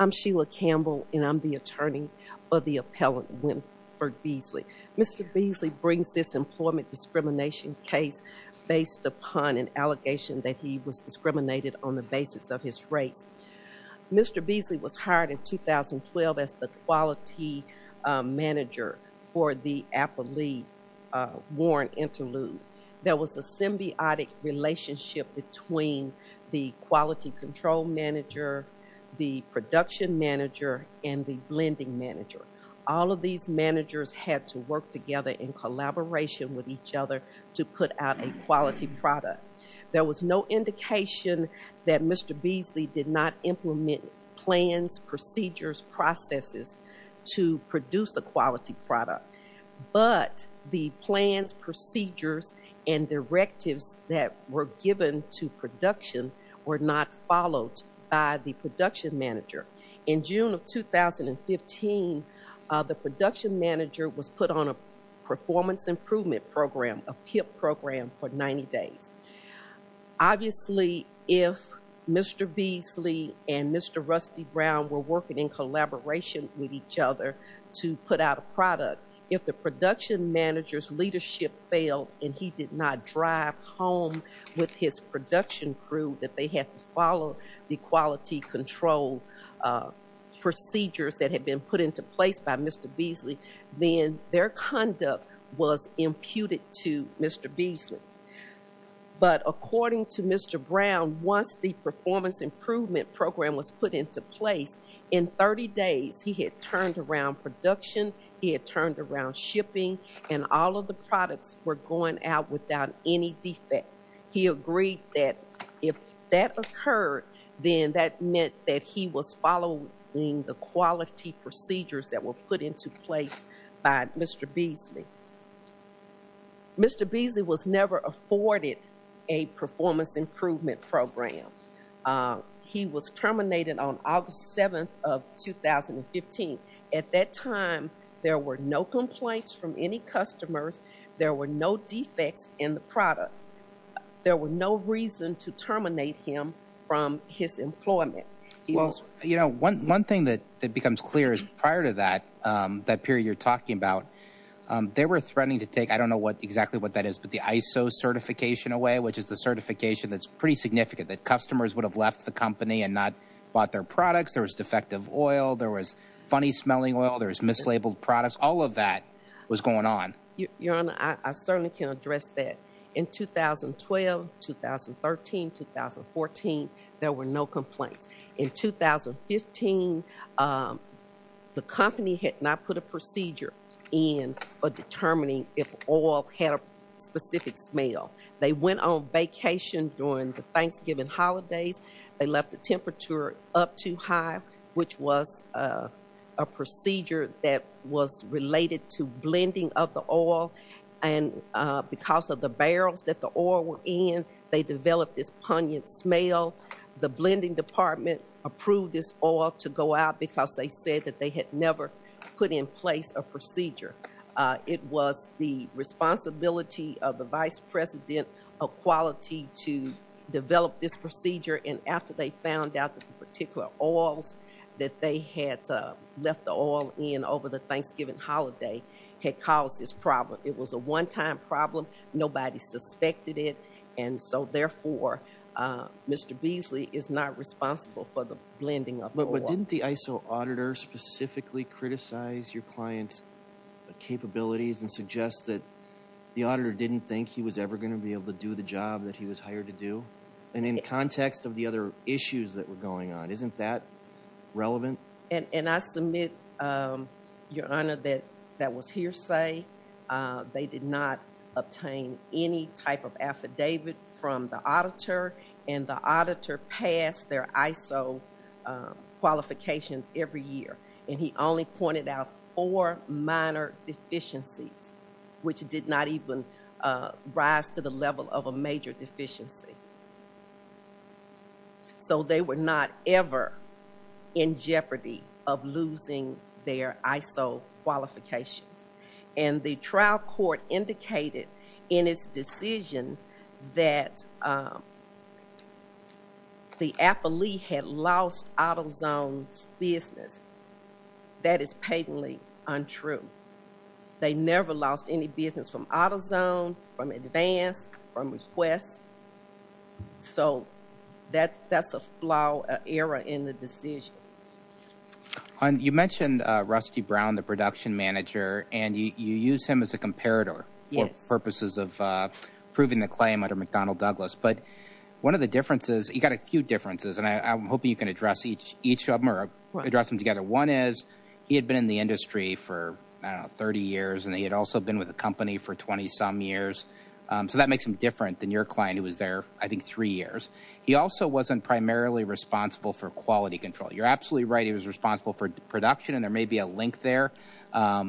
I'm Sheila Campbell and I'm the attorney for the appellant Winfred Beasley. Mr. Beasley brings this employment discrimination case based upon an allegation that he was discriminated on the basis of his race. Mr. Beasley was hired in 2012 as the quality manager for the appellee Warren Unilube. There was a symbiotic relationship between the quality control manager, the production manager, and the lending manager. All of these managers had to work together in collaboration with each other to put out a quality product. There was no indication that Mr. Beasley did not implement plans, procedures, processes to produce a quality product. But the plans, procedures, and directives that were given to production were not followed by the production manager. In June of 2015, the production manager was put on a performance improvement program, a PIP program, for 90 days. Obviously, if Mr. Beasley and Mr. Rusty Brown were working in collaboration with each other to put out a product, if the production manager's leadership failed and he did not drive home with his production crew that they had to follow the quality control procedures that had been put into place by Mr. Beasley, then their conduct was imputed to Mr. Beasley. But according to Mr. Brown, once the performance improvement program was put into place, in 30 days he had turned around production, he had turned around shipping, and all of the products were going out without any defect. He agreed that if that occurred, then that meant that he was following the quality procedures that were put into place by Mr. Beasley. Mr. Beasley was never afforded a performance improvement program. He was terminated on August 7th of 2015. At that time, there were no complaints from any customers. There were no defects in the product. There were no reason to terminate him from his employment. Well, you know, one thing that becomes clear is prior to that period you're talking about, they were threatening to take, I don't know exactly what that is, but the ISO certification away, which is the certification that's pretty significant, that customers would have left the company and not bought their products, there was defective oil, there was funny smelling oil, there was mislabeled products, all of that was going on. Your Honor, I certainly can address that. In 2012, 2013, 2014, there were no complaints. In 2015, the company had not put a procedure in for determining if oil had a specific smell. They went on vacation during the Thanksgiving holidays. They left the temperature up too high, which was a procedure that was related to blending of the oil, and because of the barrels that the oil were in, they developed this pungent smell. The blending department approved this oil to go out because they said that they had never put in place a procedure. It was the responsibility of the vice president of quality to develop this procedure, and after they found out that the particular oils that they had left the oil in over the Thanksgiving holiday had caused this problem. It was a one-time problem. Nobody suspected it, and so therefore, Mr. Beasley is not responsible for the blending of the oil. But didn't the ISO auditor specifically criticize your client's capabilities and suggest that the auditor didn't think he was ever going to be able to do the job that he was hired to do? And in the context of the other issues that were going on, isn't that relevant? And I submit, Your Honor, that that was hearsay. They did not obtain any type of affidavit from the auditor, and the auditor passed their ISO qualifications every year, and he only pointed out four minor deficiencies, which did not even rise to the level of a major deficiency. So they were not ever in jeopardy of losing their ISO qualifications, and the trial court indicated in its decision that the affilee had lost AutoZone's business. That is patently untrue. They never lost any business from AutoZone, from Advance, from Request. So that's a flaw error in the decision. You mentioned Rusty Brown, the production manager, and you used him as a comparator for purposes of proving the claim under McDonnell Douglas, but one of the differences, you got a few differences, and I'm hoping you can address each of them, or address them together. One is, he had been in the industry for, I don't know, 30 years, and he had also been with the company for 20-some years, so that makes him different than your client who was there, I think, three years. He also wasn't primarily responsible for quality control. You're absolutely right, he was responsible for production, and there may be a link there,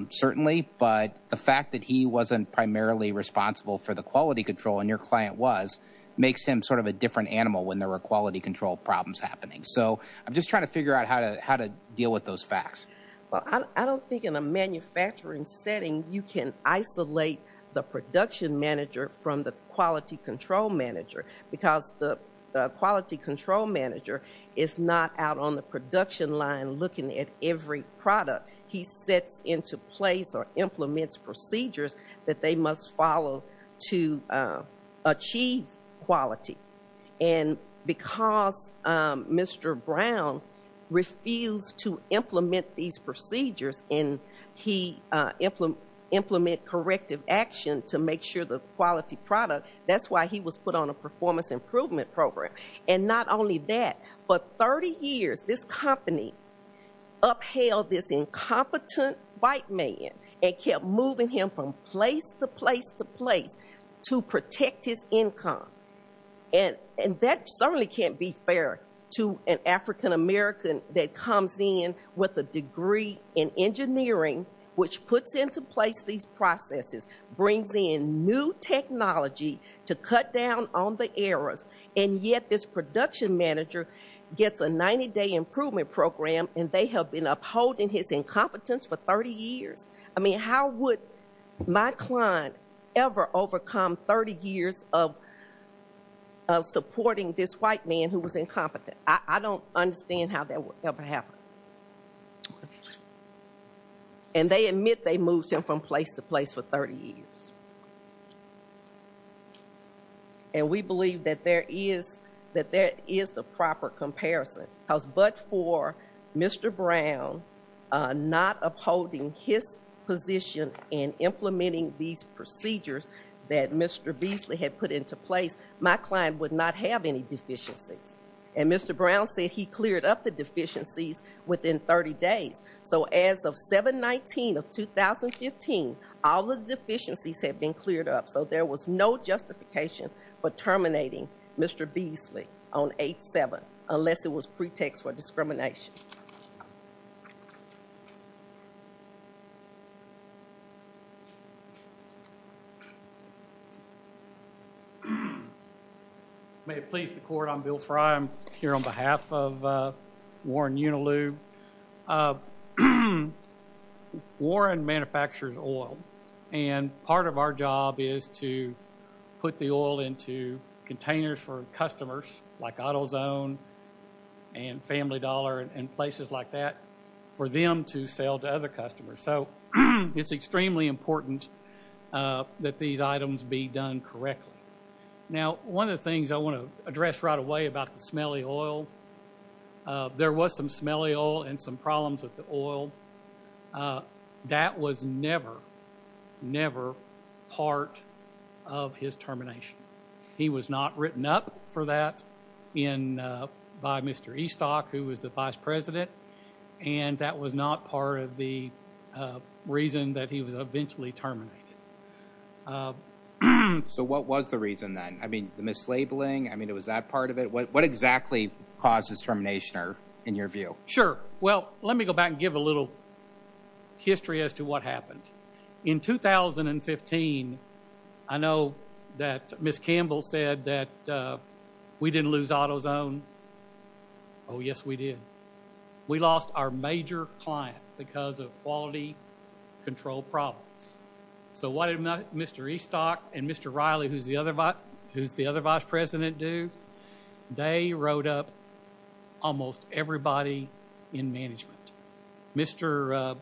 certainly, but the fact that he wasn't primarily responsible for the quality control, and your client was, makes him sort of a different animal when there were quality control problems happening. So, I'm just trying to figure out how to deal with those facts. Well, I don't think in a manufacturing setting you can isolate the production manager from the quality control manager, because the quality control manager is not out on the production line looking at every product. He sets into place or achieves quality, and because Mr. Brown refused to implement these procedures, and he implemented corrective action to make sure the quality product, that's why he was put on a performance improvement program. And not only that, for 30 years, this company upheld this incompetent white man, and kept moving him from place to place to place to protect his income. And that certainly can't be fair to an African-American that comes in with a degree in engineering, which puts into place these processes, brings in new technology to cut down on the errors, and yet this production manager gets a 90-day improvement program, and they have been upholding his incompetence for 30 years. I mean, how would my client ever overcome 30 years of supporting this white man who was incompetent? I don't understand how that would ever happen. And they admit they moved him from place to place for 30 years. And we believe that there is the proper comparison, because but for Mr. Brown not upholding his position in implementing these procedures that Mr. Beasley had put into place, my client would not have any deficiencies. And Mr. Brown said he cleared up the deficiencies within 30 days. So as of 7-19 of 2015, all the deficiencies had been cleared up, so there was no justification for terminating Mr. Beasley on 8-7, unless it was pretext for discrimination. May it please the court, I'm Bill Frye. I'm here on behalf of Warren Uniloo. Warren manufactures oil, and part of our job is to put the oil into containers for customers like AutoZone and Family Dollar and places like that for them to sell to other customers. So it's extremely important that these items be done correctly. Now, one of the things I want to address right away about the smelly oil, there was some smelly oil and some problems with the oil. That was brought up for that by Mr. Eastock, who was the vice president, and that was not part of the reason that he was eventually terminated. So what was the reason then? I mean, the mislabeling? I mean, was that part of it? What exactly caused his termination, in your view? Sure. Well, let me go back and give a little history as to what happened. In 2015, I know that Ms. Campbell said that we didn't lose AutoZone. Oh, yes, we did. We lost our major client because of quality control problems. So what did Mr. Eastock and Mr. Riley, who's the other vice president, do? They wrote up almost everybody in management. Mr.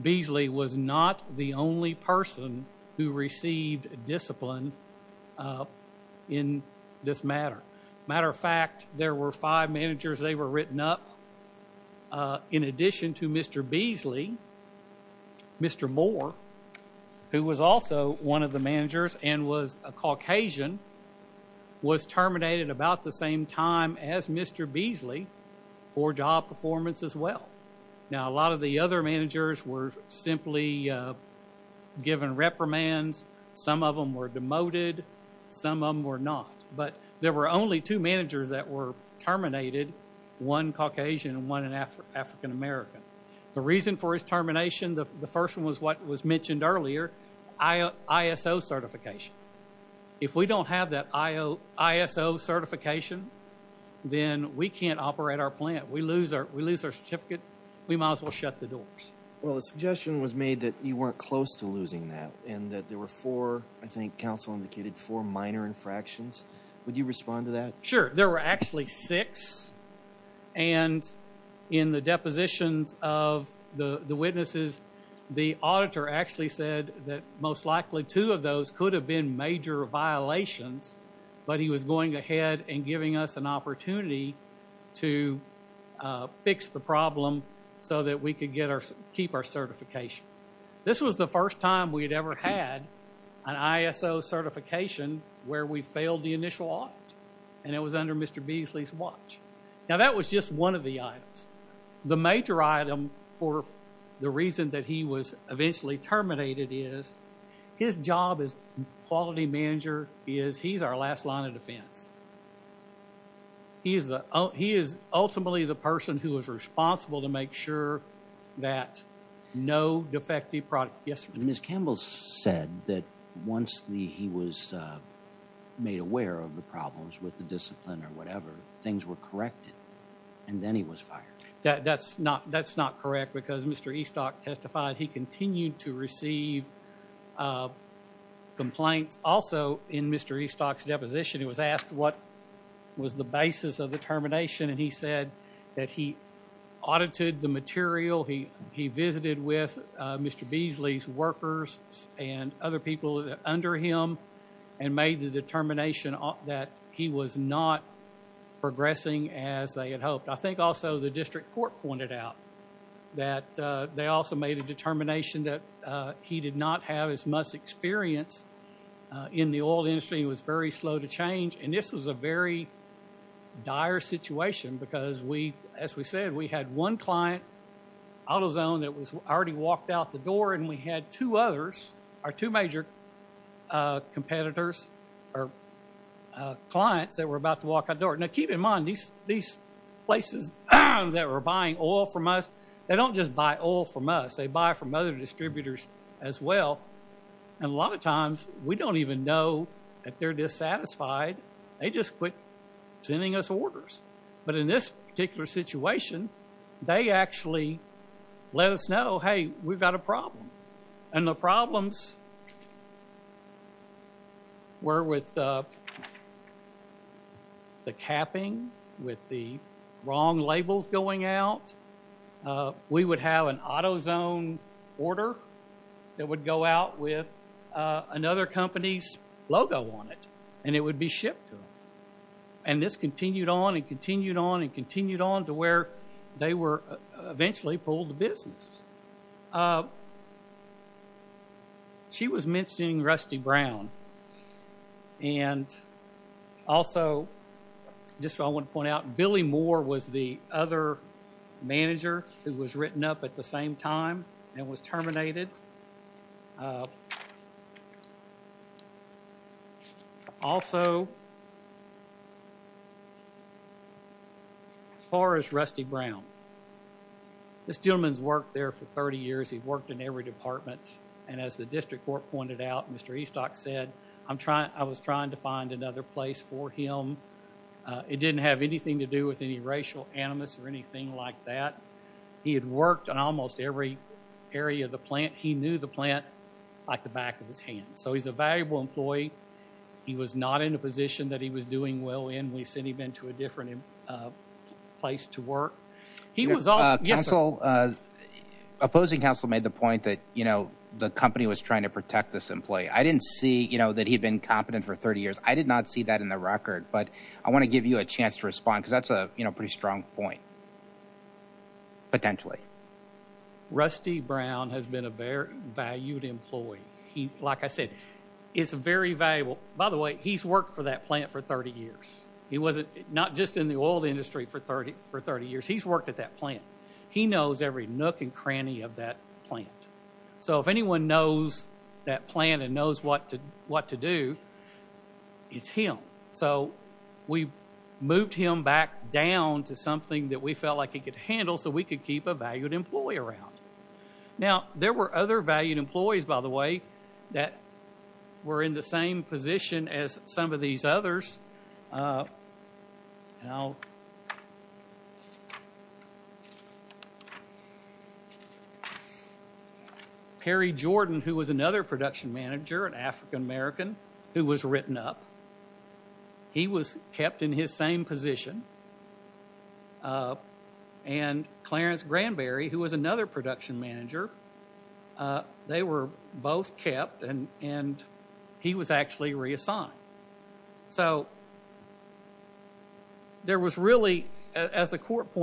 Beasley was not the only person who received discipline in this matter. Matter of fact, there were five managers they were written up. In addition to Mr. Beasley, Mr. Moore, who was terminated about the same time as Mr. Beasley for job performance as well. Now, a lot of the other managers were simply given reprimands. Some of them were demoted. Some of them were not. But there were only two managers that were terminated, one Caucasian and one an African American. The reason for his termination, the first one was what was mentioned earlier, ISO certification. If we don't have that ISO certification, then we can't operate our plant. We lose our certificate. We might as well shut the doors. Well, a suggestion was made that you weren't close to losing that and that there were four, I think counsel indicated, four minor infractions. Would you respond to that? Sure. There were actually six. And in the depositions of the witnesses, the witness mentioned major violations, but he was going ahead and giving us an opportunity to fix the problem so that we could keep our certification. This was the first time we'd ever had an ISO certification where we failed the initial audit. And it was under Mr. Beasley's watch. Now, that was just one of the items. The major item for the reason that he was eventually terminated is his job as quality manager is he's our last line of defense. He is ultimately the person who is responsible to make sure that no defective product gets removed. Ms. Campbell said that once he was made aware of the problems with the discipline or whatever, things were corrected, and then he was fired. That's not correct because Mr. Eastock testified he continued to receive complaints. Also, in Mr. Eastock's deposition, he was asked what was the basis of the termination, and he said that he audited the material, he visited with Mr. Beasley's workers and other people under him and made the determination that he was not progressing as they had hoped. I think also the district court pointed out that they also made a determination that he did not have his must experience in the oil industry and was very slow to change. And this was a very dire situation because we, as we said, we had one client, AutoZone, that was already walked out the door, and we had two others, our two major competitors or clients that were about to walk out the door that were buying oil from us. They don't just buy oil from us. They buy from other distributors as well. And a lot of times we don't even know that they're dissatisfied. They just quit sending us orders. But in this particular situation, they actually let us know, hey, we've got a problem. And the problems were with the capping, with the wrong labels going out. We would have an AutoZone order that would go out with another company's logo on it, and it would be shipped to them. And this continued on and continued on and continued on. She was mentioning Rusty Brown. And also, just I want to point out, Billy Moore was the other manager who was written up at the same time and was terminated. Also, as far as Rusty Brown, this gentleman's worked there for 30 years. He worked in every department. And as the district court pointed out, Mr. Eastock said, I'm trying, I was trying to find another place for him. It didn't have anything to do with any racial animus or anything like that. He had worked in almost every area of the plant. He knew the plant like the back of his hand. So he's a valuable employee. He was not in a position that he was doing well in. We've seen he'd been to a different place to work. He was also Yes. Counsel, opposing counsel made the point that, you know, the company was trying to protect this employee. I didn't see, you know, that he'd been competent for 30 years. I did not see that in the record. But I want to give you a chance to Rusty Brown has been a very valued employee. He, like I said, is very valuable. By the way, he's worked for that plant for 30 years. He wasn't not just in the oil industry for 30 for 30 years. He's worked at that plant. He knows every nook and cranny of that plant. So if anyone knows that plan and knows what to do, it's him. So we moved him back down to something that we felt like he could handle so we could keep a valued employee around. Now, there were other valued employees, by the way, that were in the same position as some of these others. Perry Jordan, who was another production manager, an African-American, who was written up, he was kept in his same position. And Clarence Granberry, who was another production manager, they were both kept and he was actually reassigned. So there was really, as the court did.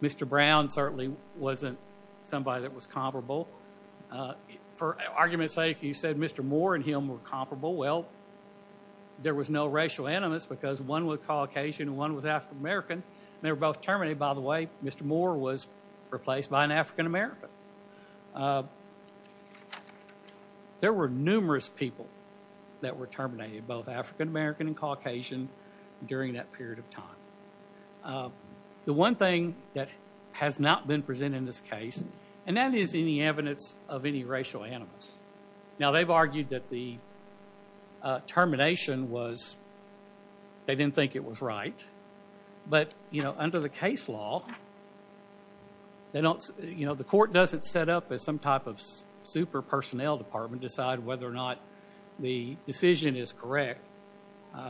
Mr. Brown certainly wasn't somebody that was comparable. For argument's sake, you said Mr. Moore and him were comparable. Well, there was no racial animus because one was Caucasian and one was African-American. They were both terminated, by the way. Mr. Moore was replaced by an African-American. There were numerous people that were terminated, both African-American and Caucasian, during that period of time. The one thing that has not been presented in this case, and that is any evidence of any racial animus. Now, they've argued that the termination was, they didn't think it was right. But under the case law, the court doesn't set up as some type of super personnel department to decide whether or not the decision is correct. As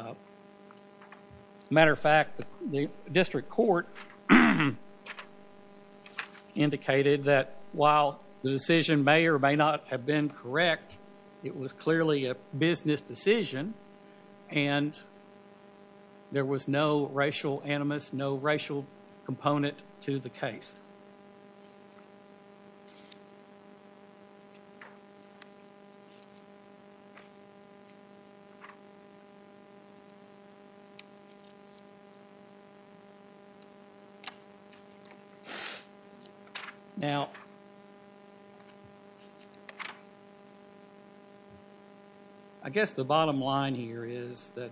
a matter of fact, the district court indicated that while the decision may or may not have been correct, it was clearly a business decision and there was no racial animus, no racial component to the case. Now, I guess the bottom line here is that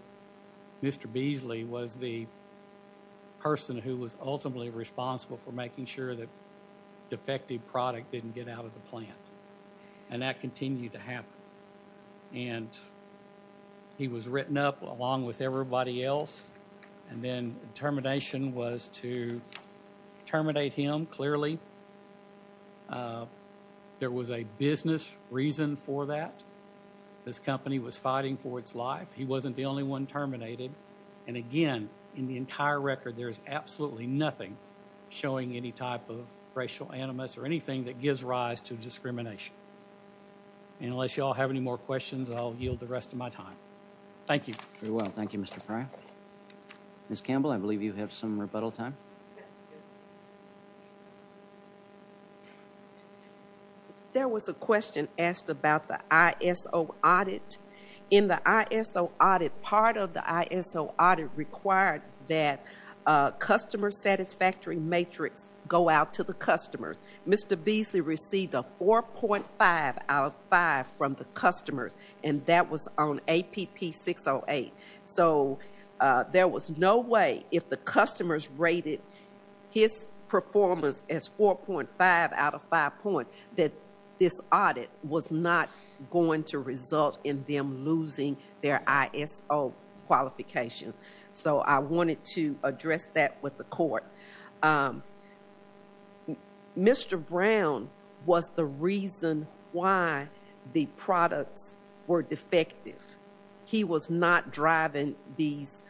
Mr. Beasley was the person who was And that continued to happen. And he was written up along with everybody else. And then termination was to terminate him, clearly. There was a business reason for that. This company was fighting for its life. He wasn't the only one terminated. And again, in the entire record, there's absolutely nothing showing any type of racial animus or anything that gives rise to discrimination. And unless you all have any more questions, I'll yield the rest of my time. Thank you. Very well. Thank you, Mr. Frye. Ms. Campbell, I believe you have some rebuttal time. There was a question asked about the ISO audit. In the ISO audit, part of the ISO audit required that customer satisfactory matrix go out to the customers. Mr. Beasley received a 4.5 out of 5 from the customers, and that was on APP 608. So there was no way if the customers rated his performance as 4.5 out of 5 points that this audit was not going to result in them losing their ISO qualification. So I wanted to address that with the court. Mr. Brown was the reason why the products were defective. He was not driving these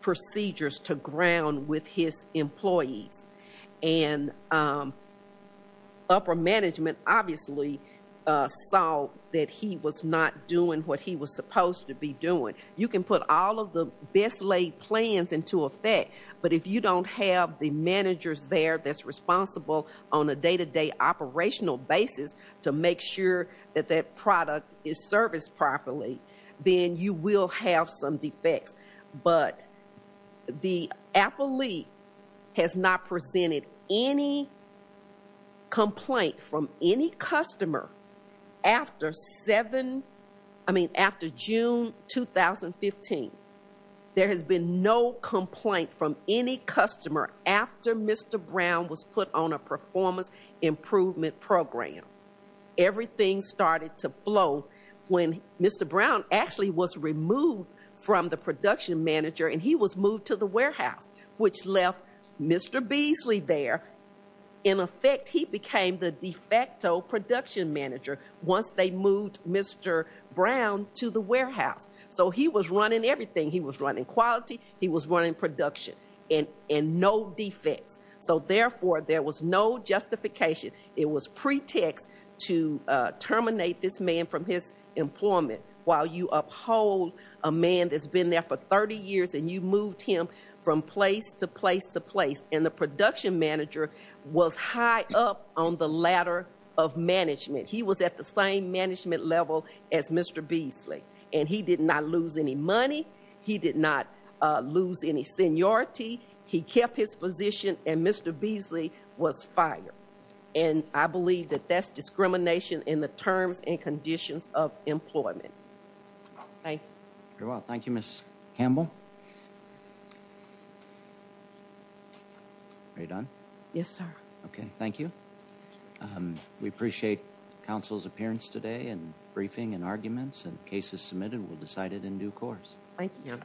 procedures to ground with his employees. And upper management obviously saw that he was not doing what he was supposed to be doing. You can put all of the best laid plans into effect, but if you don't have the managers there that's responsible on a day-to-day operational basis to make sure that that product is serviced properly, then you will have some defects. But the Apple League has not presented any complaint from any customer after June 2015. There has been no complaint from any customer after Mr. Brown was put on a performance improvement program. Everything started to flow when Mr. Brown was removed from the production manager, and he was moved to the warehouse, which left Mr. Beasley there. In effect, he became the de facto production manager once they moved Mr. Brown to the warehouse. So he was running everything. He was running quality. He was running production, and no defects. So therefore, there was no justification. It was pretext to terminate this man from his employment while you uphold a man that's been there for 30 years and you've moved him from place to place to place. And the production manager was high up on the ladder of management. He was at the same management level as Mr. Beasley, and he did not lose any money. He did not lose any seniority. He kept his position, and Mr. Beasley was fired. And I believe that that's discrimination in the terms and conditions of employment. Thank you. Thank you, Ms. Campbell. Are you done? Yes, sir. Okay, thank you. We appreciate counsel's appearance today and briefing and arguments and cases submitted. We'll decide it in due course. Thank you.